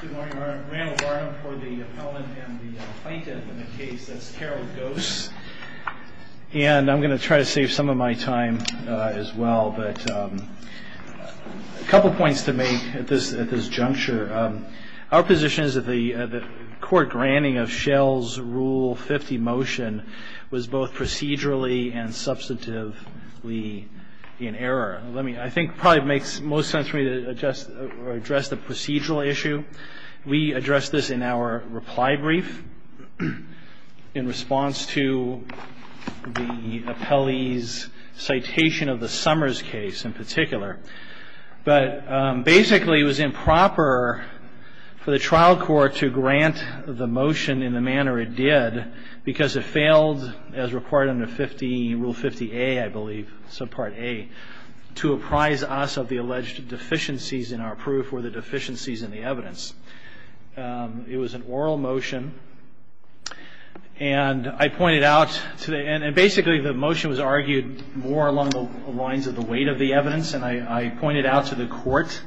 Good morning, Randall Barnum for the appellant and the plaintiff in the case. That's Carol Goos. And I'm going to try to save some of my time as well. But a couple of points to make at this juncture. Our position is that the court granting of Shell's Rule 50 motion was both procedurally and substantively in error. I think it probably makes most sense for me to address the procedural issue. We addressed this in our reply brief in response to the appellee's citation of the Summers case in particular. But basically it was improper for the trial court to grant the motion in the manner it did because it failed as required under Rule 50A, I believe, Subpart A, to apprise us of the alleged deficiencies in our proof or the deficiencies in the evidence. It was an oral motion. And I pointed out today, and basically the motion was argued more along the lines of the weight of the evidence, and I pointed out to the court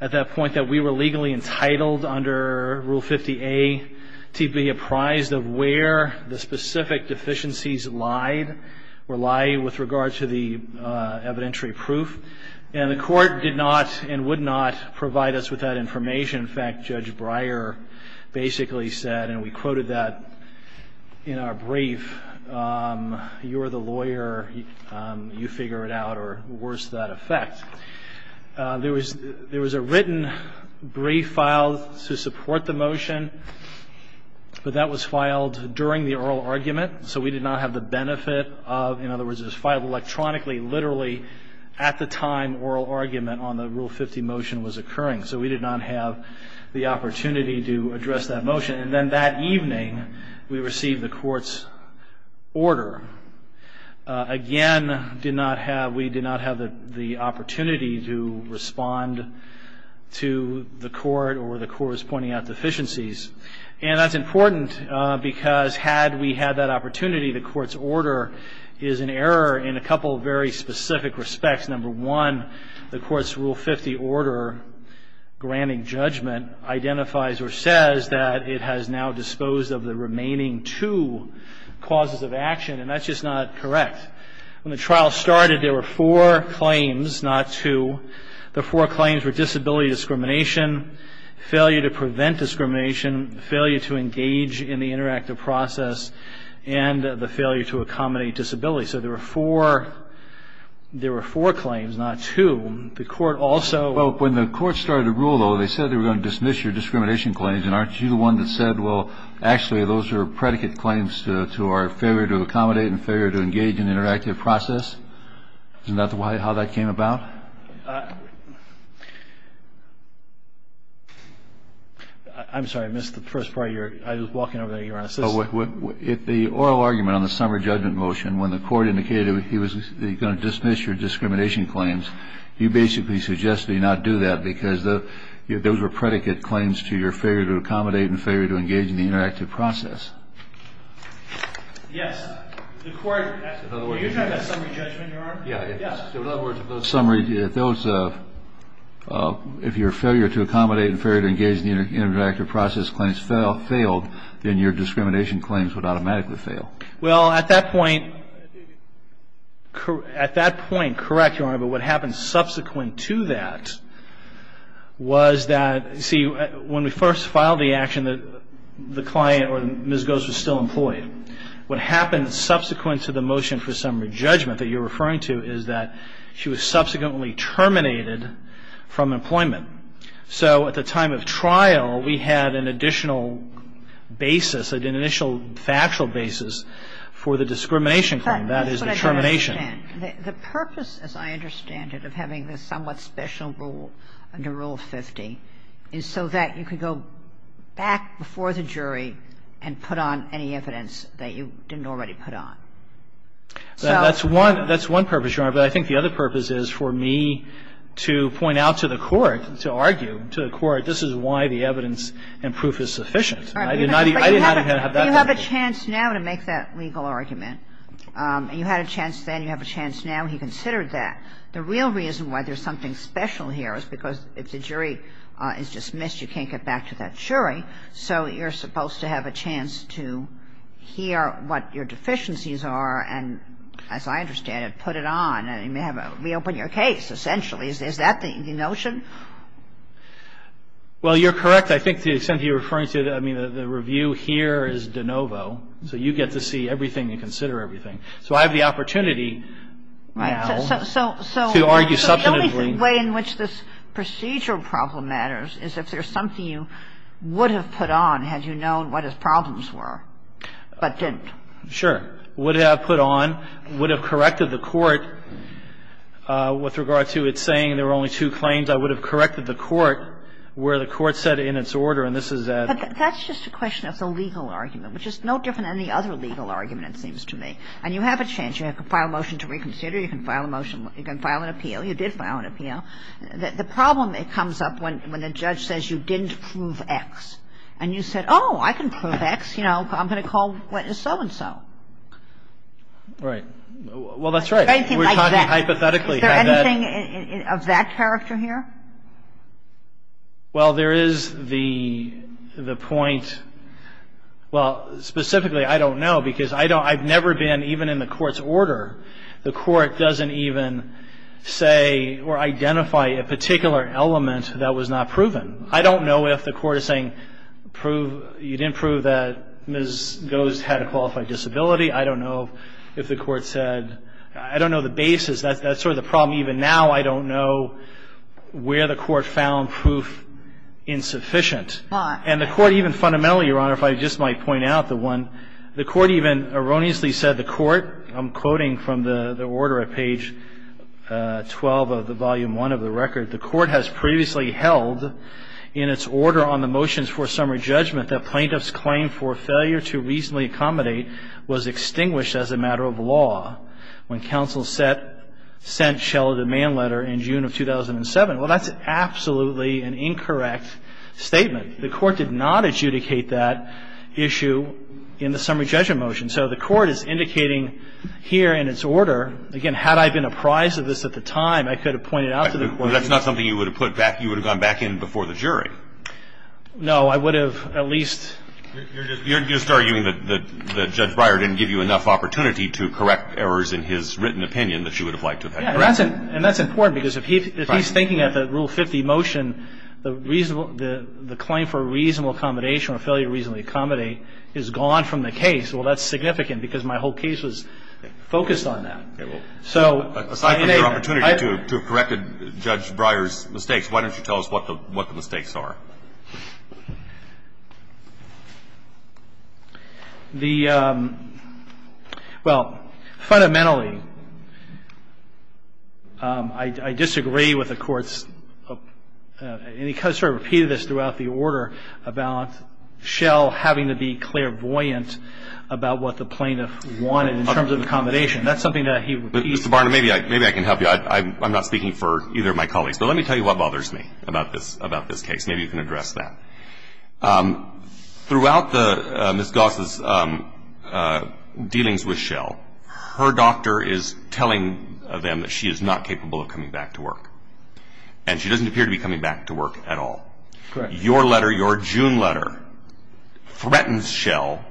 at that point that we were legally entitled under Rule 50A to be apprised of where the specific deficiencies were lying with regard to the evidentiary proof. And the court did not and would not provide us with that information. In fact, Judge Breyer basically said, and we quoted that in our brief, you are the lawyer, you figure it out, or worse to that effect. There was a written brief filed to support the motion, but that was filed during the oral argument. So we did not have the benefit of, in other words, it was filed electronically, literally at the time oral argument on the Rule 50 motion was occurring. So we did not have the opportunity to address that motion. And then that evening we received the court's order. Again, we did not have the opportunity to respond to the court or the court's pointing out deficiencies. And that's important because had we had that opportunity, the court's order is an error in a couple of very specific respects. Number one, the court's Rule 50 order granting judgment identifies or says that it has now disposed of the remaining two causes of action. That's just not correct. When the trial started, there were four claims, not two. The four claims were disability discrimination, failure to prevent discrimination, failure to engage in the interactive process, and the failure to accommodate disability. So there were four claims, not two. The court also ---- Well, when the court started the rule, though, they said they were going to dismiss your discrimination claims. And aren't you the one that said, well, actually, those are predicate claims to our failure to accommodate and failure to engage in the interactive process? Isn't that how that came about? I'm sorry. I missed the first part of your ---- I was walking over there. You're on assist. If the oral argument on the summary judgment motion, when the court indicated he was going to dismiss your discrimination claims, you basically suggested he not do that because those were predicate claims to your failure to accommodate and failure to engage in the interactive process. Yes. The court ---- Were you talking about summary judgment, Your Honor? Yes. In other words, if those ---- if your failure to accommodate and failure to engage in the interactive process claims failed, then your discrimination claims would automatically fail. Well, at that point ---- at that point, correct, Your Honor, but what happened subsequent to that was that ---- see, when we first filed the action, the client or Ms. Gose was still employed. What happened subsequent to the motion for summary judgment that you're referring to is that she was subsequently terminated from employment. So at the time of trial, we had an additional basis, an initial factual basis for the discrimination claim. That is the termination. The purpose, as I understand it, of having this somewhat special rule under Rule 50 is so that you could go back before the jury and put on any evidence that you didn't already put on. That's one ---- that's one purpose, Your Honor. But I think the other purpose is for me to point out to the court, to argue to the court, this is why the evidence and proof is sufficient. I did not ---- I did not have that purpose. But you have a chance now to make that legal argument. You had a chance then. You have a chance now. He considered that. The real reason why there's something special here is because if the jury is dismissed, you can't get back to that jury. So you're supposed to have a chance to hear what your deficiencies are and, as I understand it, put it on. You may have a ---- reopen your case, essentially. Is that the notion? Well, you're correct. I think to the extent that you're referring to, I mean, the review here is de novo. So you get to see everything and consider everything. So I have the opportunity now to argue substantively. The only way in which this procedural problem matters is if there's something you would have put on had you known what his problems were but didn't. Sure. Would have put on. Would have corrected the court with regard to its saying there were only two claims. I would have corrected the court where the court said in its order, and this is a ---- But that's just a question. That's a legal argument, which is no different than any other legal argument, it seems to me. And you have a chance. You have to file a motion to reconsider. You can file a motion. You can file an appeal. You did file an appeal. The problem comes up when the judge says you didn't prove X. And you said, oh, I can prove X. You know, I'm going to call so-and-so. Right. Well, that's right. Anything like that. Hypothetically. Is there anything of that character here? Well, there is the point. Well, specifically, I don't know, because I've never been even in the court's order, the court doesn't even say or identify a particular element that was not proven. I don't know if the court is saying prove you didn't prove that Ms. Goes had a qualified disability. I don't know if the court said ---- I don't know the basis. That's sort of the problem even now. I don't know where the court found proof insufficient. And the court even fundamentally, Your Honor, if I just might point out the one, the from the order at page 12 of the volume one of the record, the court has previously held in its order on the motions for summary judgment that plaintiff's claim for failure to reasonably accommodate was extinguished as a matter of law when counsel sent Schell a demand letter in June of 2007. Well, that's absolutely an incorrect statement. The court did not adjudicate that issue in the summary judgment motion. So the court is indicating here in its order, again, had I been apprised of this at the time, I could have pointed out to the court ---- But that's not something you would have put back, you would have gone back in before the jury. No, I would have at least ---- You're just arguing that Judge Breyer didn't give you enough opportunity to correct errors in his written opinion that you would have liked to have had. Yes, and that's important, because if he's thinking of the Rule 50 motion, the claim for reasonable accommodation or failure to reasonably accommodate is gone from the case. And I think that's significant, because my whole case was focused on that. So ---- Aside from your opportunity to have corrected Judge Breyer's mistakes, why don't you tell us what the mistakes are? The ---- Well, fundamentally, I disagree with the court's ---- and he sort of repeated this about the order, about Schell having to be clairvoyant about what the plaintiff wanted in terms of accommodation. That's something that he repeats. Mr. Barnum, maybe I can help you. I'm not speaking for either of my colleagues. But let me tell you what bothers me about this case. Maybe you can address that. Throughout Ms. Goss' dealings with Schell, her doctor is telling them that she is not capable of coming back to work. And she doesn't appear to be coming back to work at all. Correct. Your letter, your June letter, threatens Schell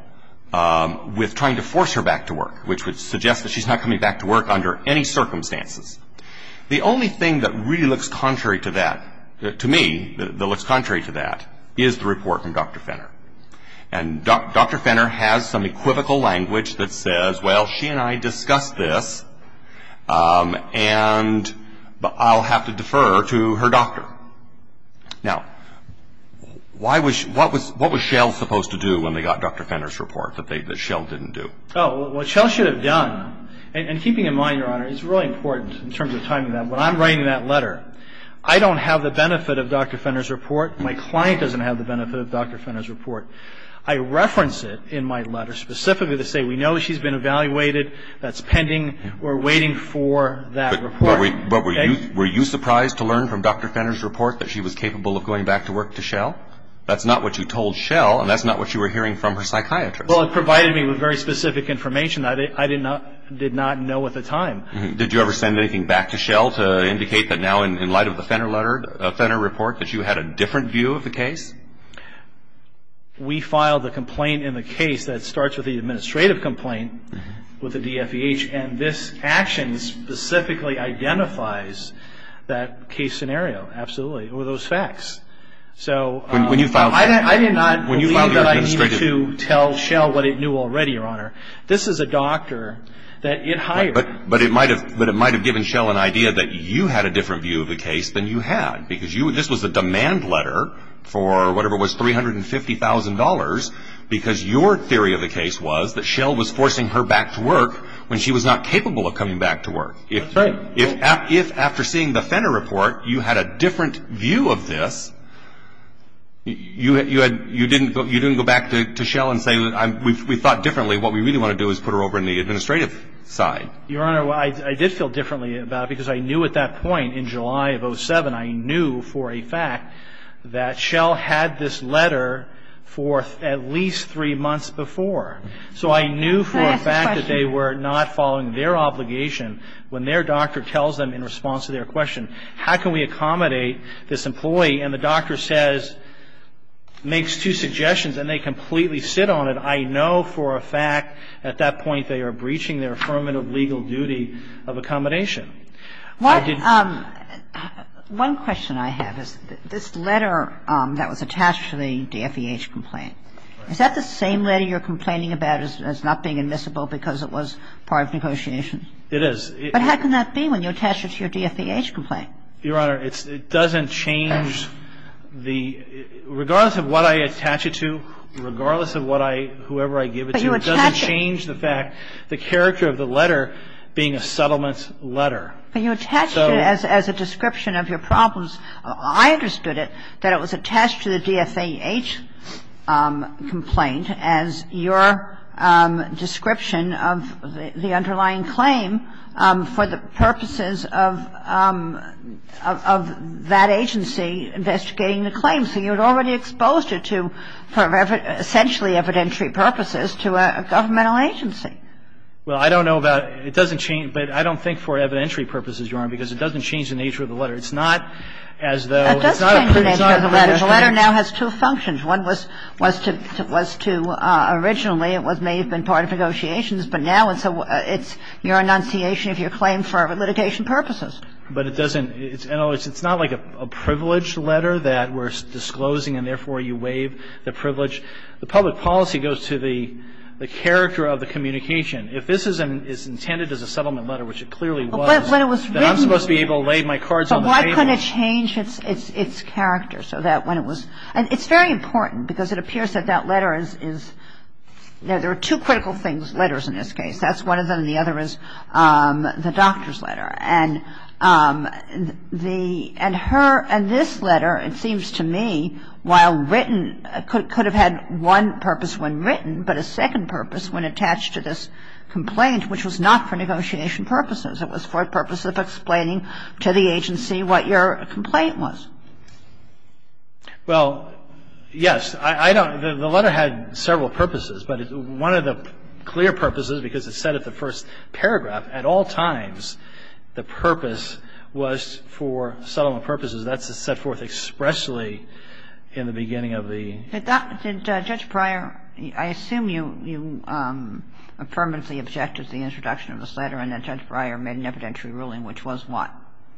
with trying to force her back to work, which would suggest that she's not coming back to work under any circumstances. The only thing that really looks contrary to that, to me, that looks contrary to that, is the report from Dr. Fenner. And Dr. Fenner has some equivocal language that says, well, she and I discussed this, and I'll have to defer to her doctor. Now, what was Schell supposed to do when they got Dr. Fenner's report that Schell didn't do? Oh, what Schell should have done, and keeping in mind, Your Honor, it's really important in terms of timing that. When I'm writing that letter, I don't have the benefit of Dr. Fenner's report. My client doesn't have the benefit of Dr. Fenner's report. I reference it in my letter specifically to say we know she's been evaluated. That's pending. We're waiting for that report. Were you surprised to learn from Dr. Fenner's report that she was capable of going back to work to Schell? That's not what you told Schell, and that's not what you were hearing from her psychiatrist. Well, it provided me with very specific information that I did not know at the time. Did you ever send anything back to Schell to indicate that now, in light of the Fenner report, that you had a different view of the case? We filed a complaint in the case that starts with the administrative complaint with the DFVH, and this action specifically identifies that case scenario. Absolutely. It were those facts. I did not believe that I needed to tell Schell what it knew already, Your Honor. This is a doctor that it hired. But it might have given Schell an idea that you had a different view of the case than you had, because this was a demand letter for whatever was $350,000, because your theory of the case was that Schell was forcing her back to work when she was not capable of coming back to work. That's right. If, after seeing the Fenner report, you had a different view of this, you didn't go back to Schell and say, we thought differently. What we really want to do is put her over on the administrative side. Your Honor, I did feel differently about it, because I knew at that point, in July of 2007, I knew for a fact that Schell had this letter for at least three months before. So I knew for a fact that they were not following their obligation. When their doctor tells them in response to their question, how can we accommodate this employee, and the doctor says, makes two suggestions, and they completely sit on it, I know for a fact at that point they are breaching their affirmative legal duty of accommodation. One question I have is this letter that was attached to the DFVH complaint, is that the same letter you're complaining about as not being admissible because it was part of negotiation? It is. But how can that be when you attach it to your DFVH complaint? Your Honor, it doesn't change the – regardless of what I attach it to, regardless of what I – whoever I give it to, it doesn't change the fact, the character of the letter being a settlement letter. But you attached it as a description of your problems. I understood it, that it was attached to the DFVH complaint as your description of the underlying claim for the purposes of that agency investigating the claim. So you had already exposed it to, for essentially evidentiary purposes, to a governmental agency. Well, I don't know about – it doesn't change – but I don't think for evidentiary purposes, Your Honor, because it doesn't change the nature of the letter. It's not as though – It does change the nature of the letter. The letter now has two functions. One was to – originally it may have been part of negotiations, but now it's your enunciation of your claim for litigation purposes. But it doesn't – it's not like a privileged letter that we're disclosing, and therefore you waive the privilege. The public policy goes to the character of the communication. If this is intended as a settlement letter, which it clearly was, then I'm supposed to be able to lay my cards on the table. But why couldn't it change its character so that when it was – and it's very important, because it appears that that letter is – there are two critical letters in this case. That's one of them, and the other is the doctor's letter. And the – and her – and this letter, it seems to me, while written, could have had one purpose when written, but a second purpose when attached to this complaint, which was not for negotiation purposes. It was for a purpose of explaining to the agency what your complaint was. Well, yes. I don't – the letter had several purposes, but one of the clear purposes, because it said at the first paragraph, at all times, the purpose was for settlement purposes. That's set forth expressly in the beginning of the – Did that – did Judge Pryor – I assume you – you affirmantly objected to the introduction of this letter, and then Judge Pryor made an evidentiary ruling, which was what?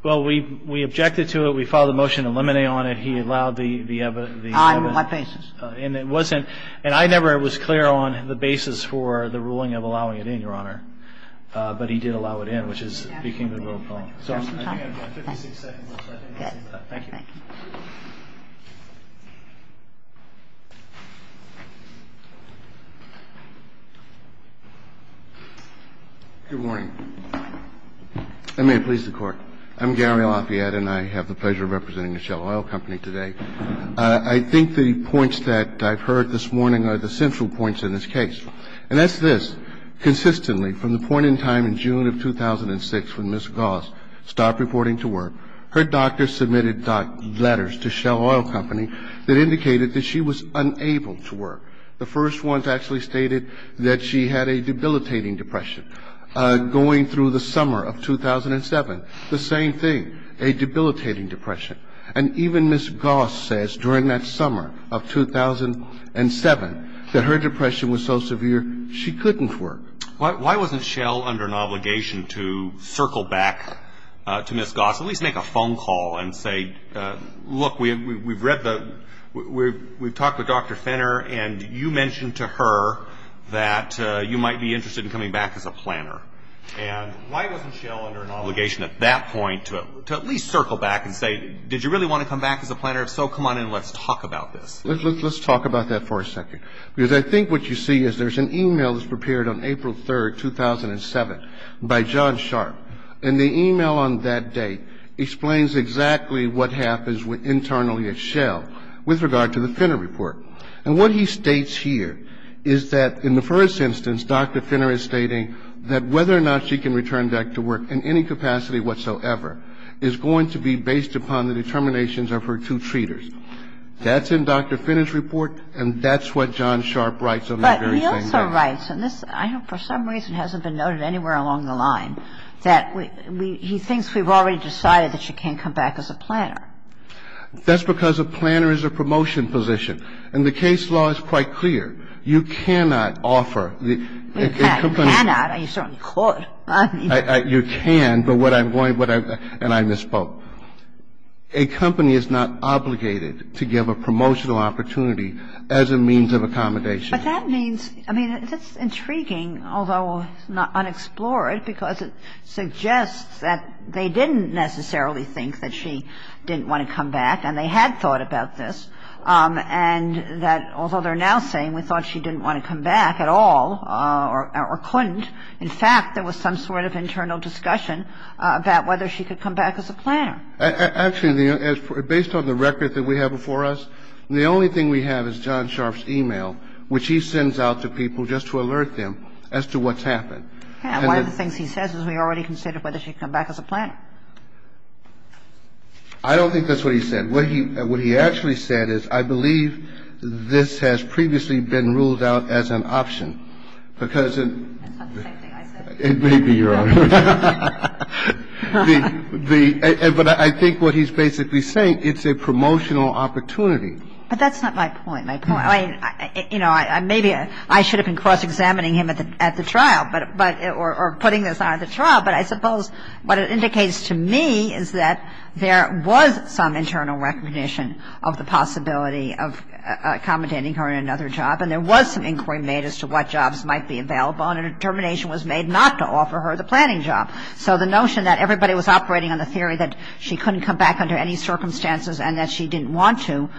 Well, we – we objected to it. We filed a motion to eliminate on it. He allowed the – the evidence. On what basis? And it wasn't – and I never was clear on the basis for the ruling of allowing it in, Your Honor, but he did allow it in, which is – became the rule of law. So I think I have about 56 seconds, so I think that's it for that. Thank you. Good morning. I may please the Court. I'm Gary Lafayette, and I have the pleasure of representing the Shell Oil Company today. I think the points that I've heard this morning are the central points in this case. And that's this. Consistently, from the point in time in June of 2006 when Ms. Goss stopped reporting to work, her doctor submitted letters to Shell Oil Company that indicated that she was unable to work. The first ones actually stated that she had a debilitating depression. Going through the summer of 2007, the same thing, a debilitating depression. And even Ms. Goss says during that summer of 2007 that her depression was so severe she couldn't work. Why wasn't Shell under an obligation to circle back to Ms. Goss, at least make a phone call and say, look, we've read the – we've talked with Dr. Finner, and you mentioned to her that you might be interested in coming back as a planner. And why wasn't Shell under an obligation at that point to at least circle back and say, did you really want to come back as a planner? If so, come on in and let's talk about this. Let's talk about that for a second. Because I think what you see is there's an e-mail that was prepared on April 3, 2007, by John Sharp. And the e-mail on that day explains exactly what happens internally at Shell with regard to the Finner report. And what he states here is that in the first instance, Dr. Finner is stating that whether or not she can return back to work in any capacity whatsoever is going to be based upon the determinations of her two treaters. That's in Dr. Finner's report, and that's what John Sharp writes on that very same day. But he also writes, and this I know for some reason hasn't been noted anywhere along the line, that he thinks we've already decided that she can't come back as a planner. That's because a planner is a promotion position. And the case law is quite clear. You cannot offer a company to give a promotional opportunity as a means of accommodation. But that means, I mean, that's intriguing, although unexplored, because it suggests that they didn't necessarily think that she didn't want to come back, and they had thought about this, and that although they're now saying we thought she didn't want to come back at all or couldn't, in fact, there was some sort of internal discussion about whether she could come back as a planner. Actually, based on the record that we have before us, the only thing we have is John Sharp's e-mail, which he sends out to people just to alert them as to what's happened. And he's got a lot of information about whether she can come back as a planner. And one of the things he says is we already considered whether she can come back as a planner. I don't think that's what he said. What he actually said is I believe this has previously been ruled out as an option because it's not the same thing I said. It may be, Your Honor. But I think what he's basically saying, it's a promotional opportunity. But that's not my point. My point, you know, maybe I should have been cross-examining him at the trial or putting this on at the trial. But I suppose what it indicates to me is that there was some internal recognition of the possibility of accommodating her in another job, and there was some inquiry made as to what jobs might be available, and a determination was made not to offer her the planning job. So the notion that everybody was operating on the theory that she couldn't come back under any circumstances and that she didn't want to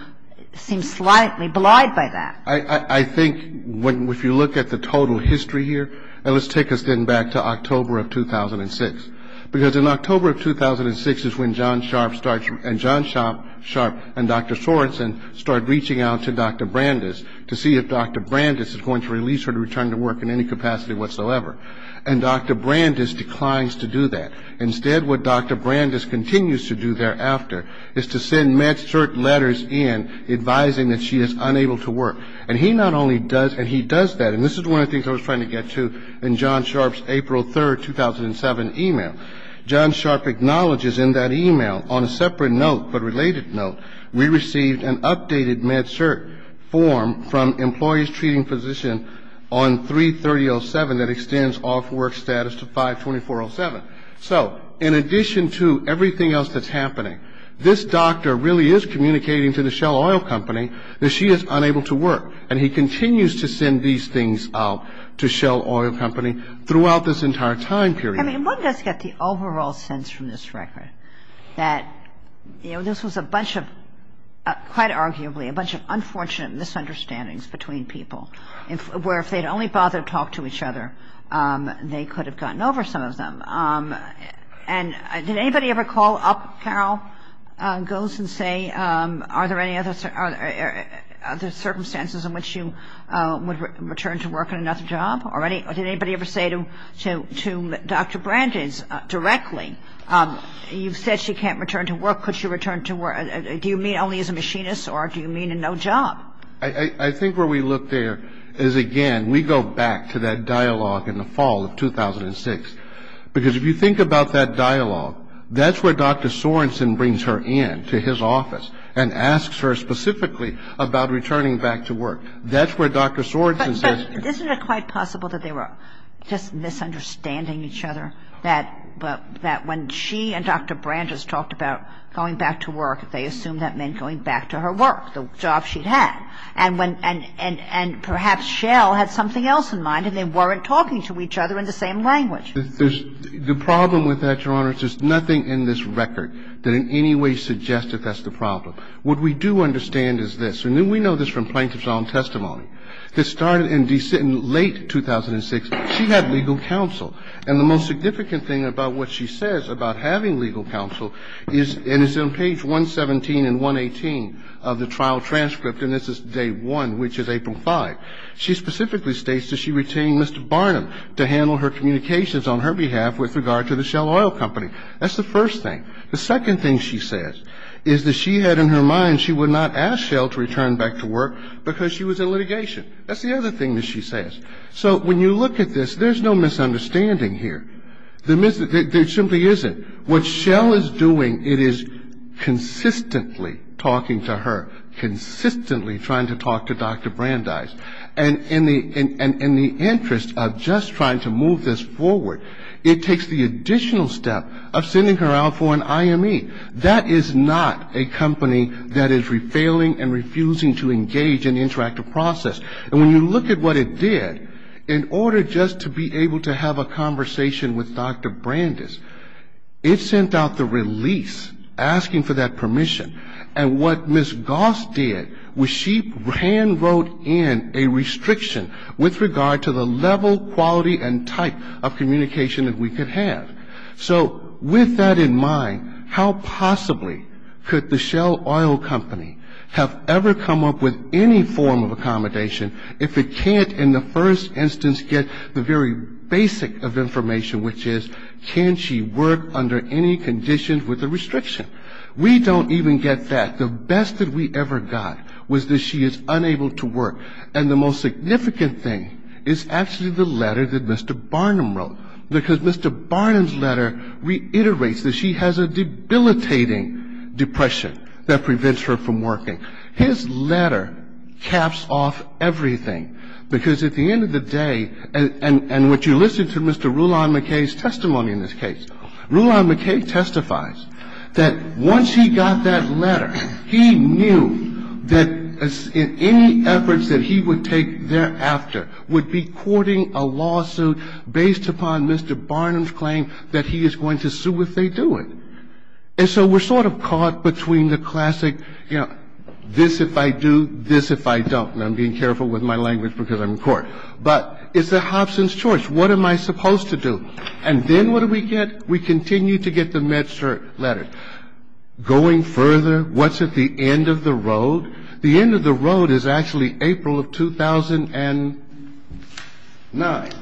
seems slightly belied by that. I think if you look at the total history here, and let's take us then back to October of 2006, because in October of 2006 is when John Sharp and Dr. Sorensen start reaching out to Dr. Brandes to see if Dr. Brandes is going to release her to return to work in any capacity whatsoever. And Dr. Brandes declines to do that. Instead, what Dr. Brandes continues to do thereafter is to send MedCert letters in advising that she is unable to work. And he not only does, and he does that, and this is one of the things I was trying to get to in John Sharp's April 3, 2007, email. John Sharp acknowledges in that email, on a separate note but related note, we received an updated MedCert form from Employees Treating Physicians on 3307 that extends off-work status to 52407. So in addition to everything else that's happening, this doctor really is communicating to the Shell Oil Company that she is unable to work. And he continues to send these things out to Shell Oil Company throughout this entire time period. I mean, one does get the overall sense from this record that, you know, this was a bunch of, quite arguably, a bunch of unfortunate misunderstandings between people where if they'd only bothered to talk to each other, they could have gotten over some of them. And did anybody ever call up, Carol goes and say, are there circumstances in which you would return to work on another job? Or did anybody ever say to Dr. Brandes directly, you've said she can't return to work, could she return to work? Do you mean only as a machinist or do you mean in no job? I think where we look there is, again, we go back to that dialogue in the fall of 2006. Because if you think about that dialogue, that's where Dr. Sorensen brings her in to his office and asks her specifically about returning back to work. That's where Dr. Sorensen says you can't. But isn't it quite possible that they were just misunderstanding each other, that when she and Dr. Brandes talked about going back to work, they assumed that meant going back to her work, the job she'd had. And when – and perhaps Schell had something else in mind and they weren't talking to each other in the same language. There's – the problem with that, Your Honor, is there's nothing in this record that in any way suggests that that's the problem. What we do understand is this. And we know this from plaintiff's own testimony. This started in late 2006. She had legal counsel. And the most significant thing about what she says about having legal counsel is – and it's on page 117 and 118 of the trial transcript, and this is day one, which is April 5. She specifically states that she retained Mr. Barnum to handle her communications on her behalf with regard to the Schell Oil Company. That's the first thing. The second thing she says is that she had in her mind she would not ask Schell to return back to work because she was in litigation. That's the other thing that she says. So when you look at this, there's no misunderstanding here. There simply isn't. What Schell is doing, it is consistently talking to her, consistently trying to talk to Dr. Brandeis. And in the interest of just trying to move this forward, it takes the additional step of sending her out for an IME. That is not a company that is refailing and refusing to engage in the interactive process. And when you look at what it did, in order just to be able to have a conversation with Dr. Brandeis, it sent out the release asking for that permission. And what Ms. Goss did was she hand wrote in a restriction with regard to the level, quality, and type of communication that we could have. So with that in mind, how possibly could the Schell Oil Company have ever come up with any form of accommodation if it can't in the first instance get the very basic of information, which is can she work under any conditions with a restriction? We don't even get that. The best that we ever got was that she is unable to work. And the most significant thing is actually the letter that Mr. Barnum wrote. Because Mr. Barnum's letter reiterates that she has a debilitating depression that prevents her from working. His letter caps off everything. Because at the end of the day, and what you listen to Mr. Roulin-McKay's testimony in this case, Roulin-McKay testifies that once he got that letter, he knew that in any efforts that he would take thereafter would be courting a lawsuit based upon Mr. Barnum's claim that he is going to sue if they do it. And so we're sort of caught between the classic, you know, this if I do, this if I don't. And I'm being careful with my language because I'm in court. But it's a Hobson's choice. What am I supposed to do? And then what do we get? We continue to get the MedCert letter. Going further, what's at the end of the road? The end of the road is actually April of 2009.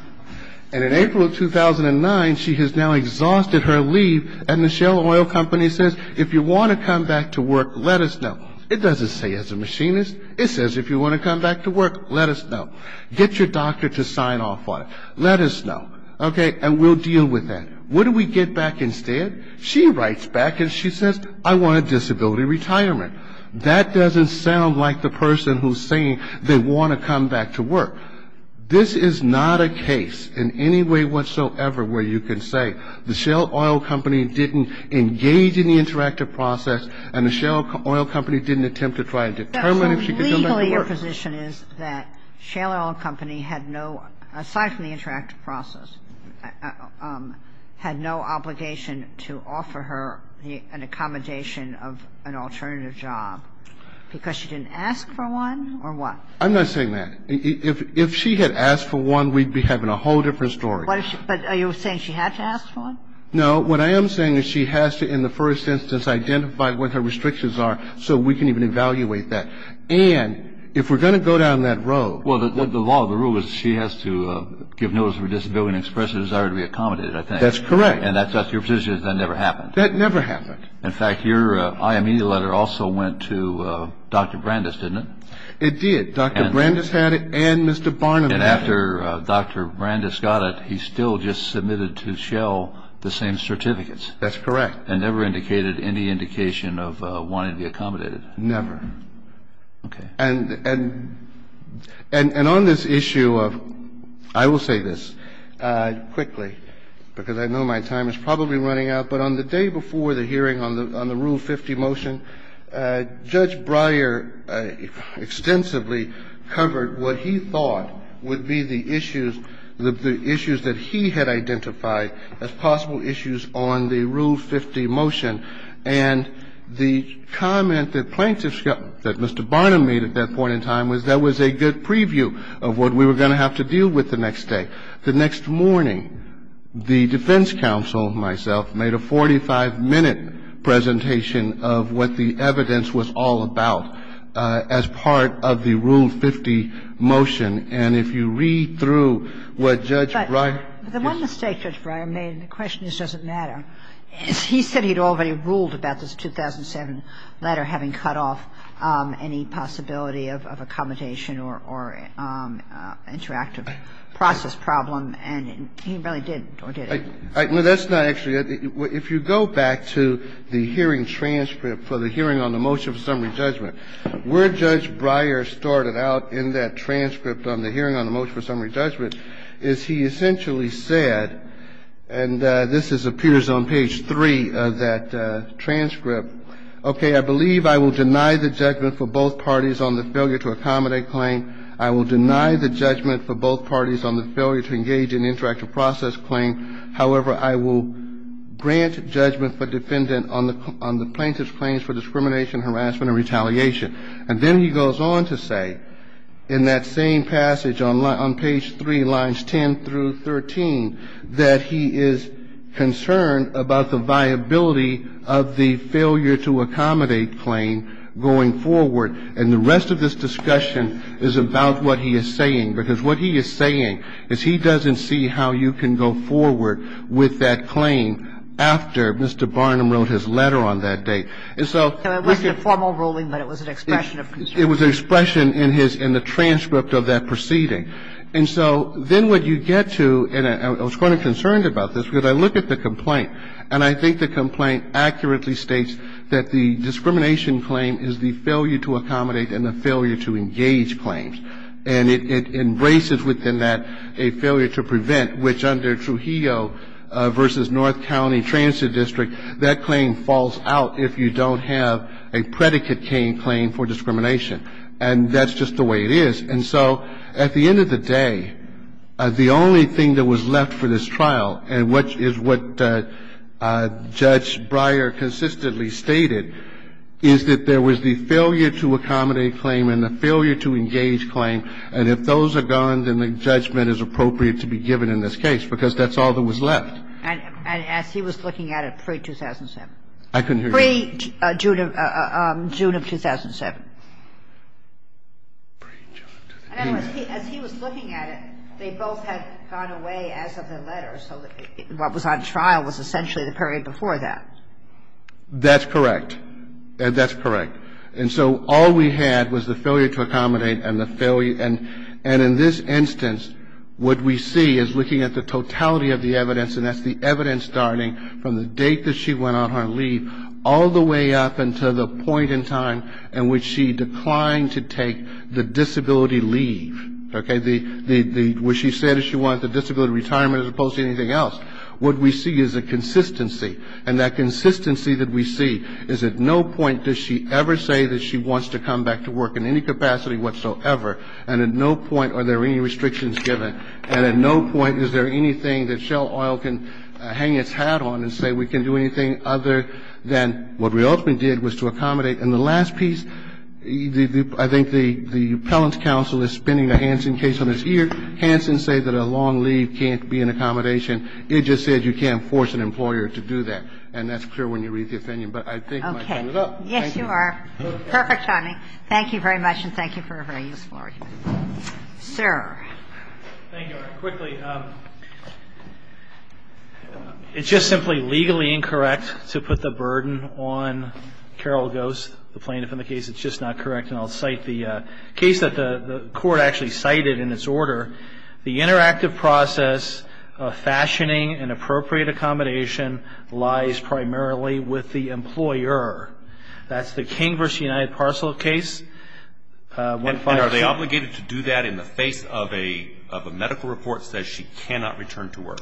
And in April of 2009, she has now exhausted her leave, and the Shell Oil Company says, if you want to come back to work, let us know. It doesn't say as a machinist. It says if you want to come back to work, let us know. Get your doctor to sign off on it. Let us know. Okay? And we'll deal with that. What do we get back instead? She writes back and she says, I want a disability retirement. That doesn't sound like the person who's saying they want to come back to work. This is not a case in any way whatsoever where you can say the Shell Oil Company didn't engage in the interactive process and the Shell Oil Company didn't attempt to try and determine if she could come back to work. But the position is that Shell Oil Company had no, aside from the interactive process, had no obligation to offer her an accommodation of an alternative job because she didn't ask for one or what? I'm not saying that. If she had asked for one, we'd be having a whole different story. But are you saying she had to ask for one? No. What I am saying is she has to, in the first instance, identify what her restrictions are so we can even evaluate that. And if we're going to go down that road. Well, the law, the rule is she has to give notice of her disability and express her desire to be accommodated, I think. That's correct. And that's your position is that never happened? That never happened. In fact, your IME letter also went to Dr. Brandes, didn't it? It did. Dr. Brandes had it and Mr. Barnum had it. And after Dr. Brandes got it, he still just submitted to Shell the same certificates? That's correct. And never indicated any indication of wanting to be accommodated? Never. Okay. And on this issue of, I will say this quickly, because I know my time is probably running out, but on the day before the hearing on the Rule 50 motion, Judge Breyer extensively covered what he thought would be the issues, the issues that he had identified as possible issues on the Rule 50 motion. And the comment that plaintiffs got, that Mr. Barnum made at that point in time, was that was a good preview of what we were going to have to deal with the next day. The next morning, the defense counsel, myself, made a 45-minute presentation of what the evidence was all about as part of the Rule 50 motion. And if you read through what Judge Breyer did. The one mistake Judge Breyer made, and the question is does it matter, is he said he had already ruled about this 2007 letter having cut off any possibility of accommodation or interactive process problem, and he really didn't or didn't. No, that's not actually it. If you go back to the hearing transcript for the hearing on the motion for summary judgment, where Judge Breyer started out in that transcript on the hearing on the summary judgment, is he essentially said, and this appears on page three of that transcript, okay, I believe I will deny the judgment for both parties on the failure to accommodate claim. I will deny the judgment for both parties on the failure to engage in interactive process claim. However, I will grant judgment for defendant on the plaintiff's claims for discrimination, harassment, and retaliation. And then he goes on to say in that same passage on page three, lines 10 through 13, that he is concerned about the viability of the failure to accommodate claim going forward. And the rest of this discussion is about what he is saying, because what he is saying is he doesn't see how you can go forward with that claim after Mr. Barnum wrote his letter on that date. And so we can't. Kagan. It wasn't a formal ruling, but it was an expression of concern. It was an expression in his – in the transcript of that proceeding. And so then what you get to – and I was quite concerned about this, because I looked at the complaint. And I think the complaint accurately states that the discrimination claim is the failure to accommodate and the failure to engage claims. And it embraces within that a failure to prevent, which under Trujillo v. North County Transit District, that claim falls out if you don't have a predicate claim for discrimination. And that's just the way it is. And so at the end of the day, the only thing that was left for this trial, and which is what Judge Breyer consistently stated, is that there was the failure to accommodate claim and the failure to engage claim. And if those are gone, then the judgment is appropriate to be given in this case, because that's all that was left. And as he was looking at it pre-2007. I couldn't hear you. Pre-June of 2007. And as he was looking at it, they both had gone away as of the letter. So what was on trial was essentially the period before that. That's correct. That's correct. And so all we had was the failure to accommodate and the failure – and in this instance, what we see is looking at the totality of the evidence. And that's the evidence starting from the date that she went on her leave all the way up until the point in time in which she declined to take the disability leave. Okay? What she said is she wanted the disability retirement as opposed to anything else. What we see is a consistency. And that consistency that we see is at no point does she ever say that she wants to come back to work in any capacity whatsoever. And at no point are there any restrictions given. And at no point is there anything that Shell Oil can hang its hat on and say we can do anything other than what we ultimately did was to accommodate. And the last piece, I think the appellant's counsel is spinning a Hansen case on his ear. Hansen said that a long leave can't be an accommodation. It just said you can't force an employer to do that. And that's clear when you read the opinion. But I think my time is up. Thank you. Okay. Yes, you are. Perfect timing. Thank you very much. And thank you for a very useful argument. Sir. Thank you. Quickly, it's just simply legally incorrect to put the burden on Carol Ghost, the plaintiff, in the case. It's just not correct. And I'll cite the case that the court actually cited in its order. The interactive process of fashioning an appropriate accommodation lies primarily with the employer. that the court actually cited in the case says that the employer has a right to go back to work. That's the King v. United Parcel case. And are they obligated to do that in the face of a medical report says she cannot return to work?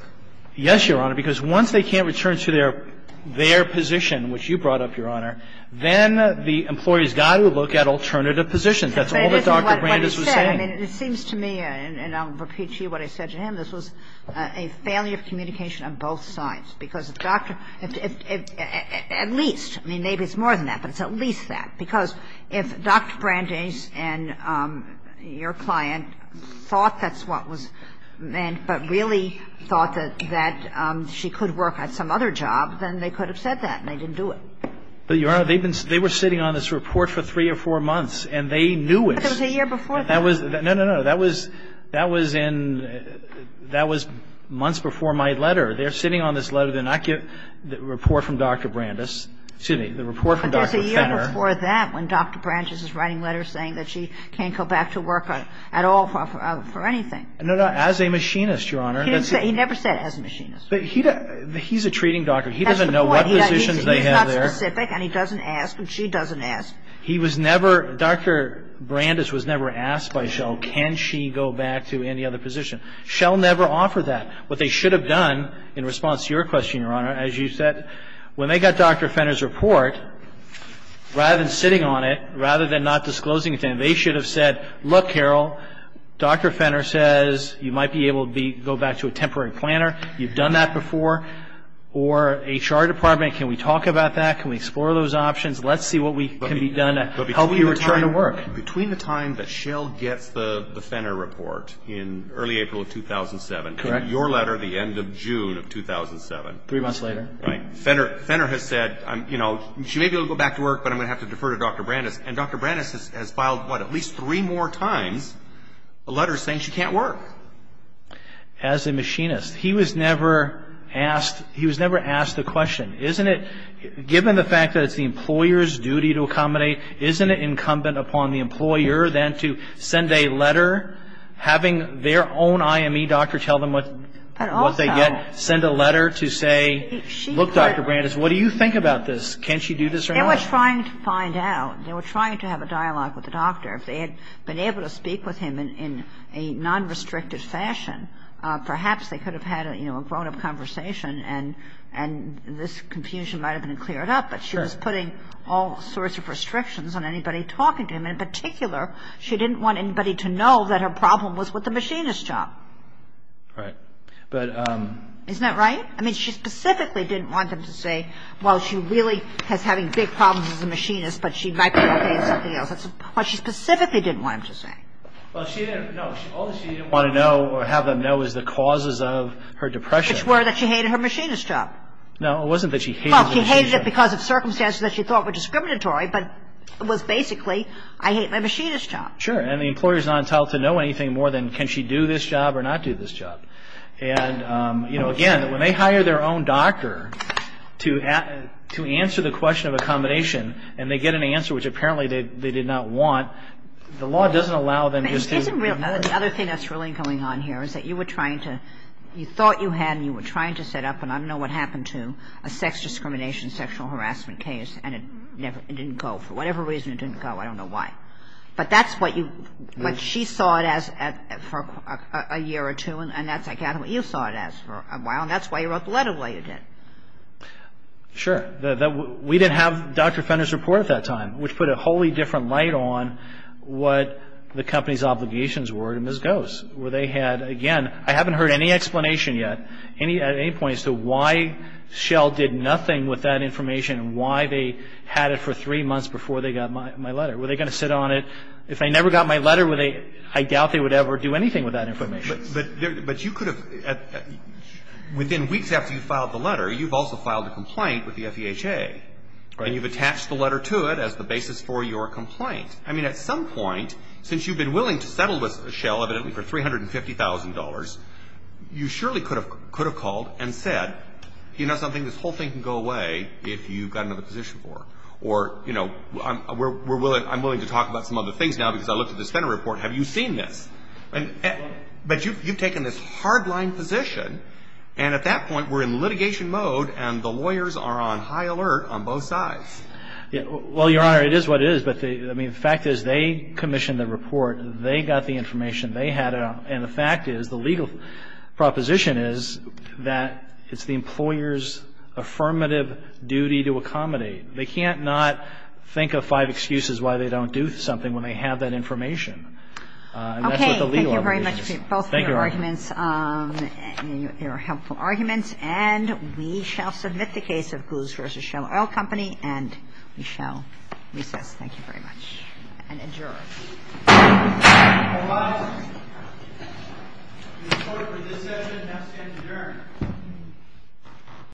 Yes, Your Honor. Because once they can't return to their position, which you brought up, Your Honor, then the employee's got to look at alternative positions. That's all that Dr. Brandes was saying. But it isn't what he said. I mean, it seems to me, and I'll repeat to you what I said to him, this was a failure of communication on both sides. Because if Dr. – at least, I mean, maybe it's more than that, but it's at least that. Because if Dr. Brandes and your client thought that's what was meant, but really thought that she could work at some other job, then they could have said that and they didn't do it. But, Your Honor, they were sitting on this report for three or four months, and they knew it. But there was a year before that. No, no, no. That was in – that was months before my letter. They're sitting on this letter. They're not getting the report from Dr. Brandes. Excuse me, the report from Dr. Fenner. But there's a year before that when Dr. Brandes is writing letters saying that she can't go back to work at all for anything. No, no. As a machinist, Your Honor. He never said as a machinist. But he's a treating doctor. That's the point. He's not specific, and he doesn't ask, and she doesn't ask. He was never – Dr. Brandes was never asked by Shell, can she go back to any other position. Shell never offered that. What they should have done in response to your question, Your Honor, as you said, when they got Dr. Fenner's report, rather than sitting on it, rather than not disclosing it to him, they should have said, look, Carol, Dr. Fenner says you might be able to go back to a temporary planner. You've done that before. Or HR department, can we talk about that? Can we explore those options? Let's see what can be done to help you return to work. But between the time that Shell gets the Fenner report in early April of 2007, your letter, the end of June of 2007. Three months later. Right. Fenner has said, you know, she may be able to go back to work, but I'm going to have to defer to Dr. Brandes. And Dr. Brandes has filed, what, at least three more times a letter saying she can't work. As a machinist. He was never asked the question, isn't it, given the fact that it's the employer's duty to accommodate, isn't it incumbent upon the employer then to send a letter, having their own IME doctor tell them what they get, send a letter to say, look, Dr. Brandes, what do you think about this? Can she do this or not? They were trying to find out. They were trying to have a dialogue with the doctor. If they had been able to speak with him in a non-restricted fashion, perhaps they could have had, you know, a grown-up conversation and this confusion might have been cleared up. But she was putting all sorts of restrictions on anybody talking to him. In particular, she didn't want anybody to know that her problem was with the machinist job. Right. But. Isn't that right? I mean, she specifically didn't want them to say, well, she really is having big problems as a machinist, but she might be okay with something else. But she specifically didn't want them to say. Well, she didn't. No. All she didn't want to know or have them know is the causes of her depression. Which were that she hated her machinist job. No, it wasn't that she hated the machinist job. Well, she hated it because of circumstances that she thought were discriminatory, but it was basically, I hate my machinist job. Sure. And the employer is not entitled to know anything more than can she do this job or not do this job. And, you know, again, when they hire their own doctor to answer the question of accommodation and they get an answer which apparently they did not want, the law doesn't allow them just to. The other thing that's really going on here is that you were trying to. You thought you had and you were trying to set up, and I don't know what happened to, a sex discrimination sexual harassment case and it didn't go. For whatever reason it didn't go. I don't know why. But that's what she saw it as for a year or two. And that's what you saw it as for a while. And that's why you wrote the letter the way you did. Sure. We didn't have Dr. Fenner's report at that time, which put a wholly different light on what the company's obligations were to Ms. Gose, where they had, again, I haven't heard any explanation yet, at any point as to why Shell did nothing with that information and why they had it for three months before they got my letter. Were they going to sit on it? If they never got my letter, I doubt they would ever do anything with that information. But you could have, within weeks after you filed the letter, you've also filed a complaint with the FEHA. Right. And you've attached the letter to it as the basis for your complaint. I mean, at some point, since you've been willing to settle with Shell, evidently for $350,000, you surely could have called and said, you know something, this whole thing can go away if you've got another position for it. Or, you know, I'm willing to talk about some other things now because I looked at this Fenner report. Have you seen this? But you've taken this hard-line position, and at that point we're in litigation mode and the lawyers are on high alert on both sides. Well, Your Honor, it is what it is. But, I mean, the fact is they commissioned the report. They got the information. They had it on. And the fact is, the legal proposition is that it's the employer's affirmative duty to accommodate. They can't not think of five excuses why they don't do something when they have that information. And that's what the legal argument is. Okay. Thank you very much for both of your arguments. They were helpful arguments. And we shall submit the case of Goose v. Shell Oil Company, and we shall recess. Thank you very much. And adjourn. All rise. The court for this session has adjourned.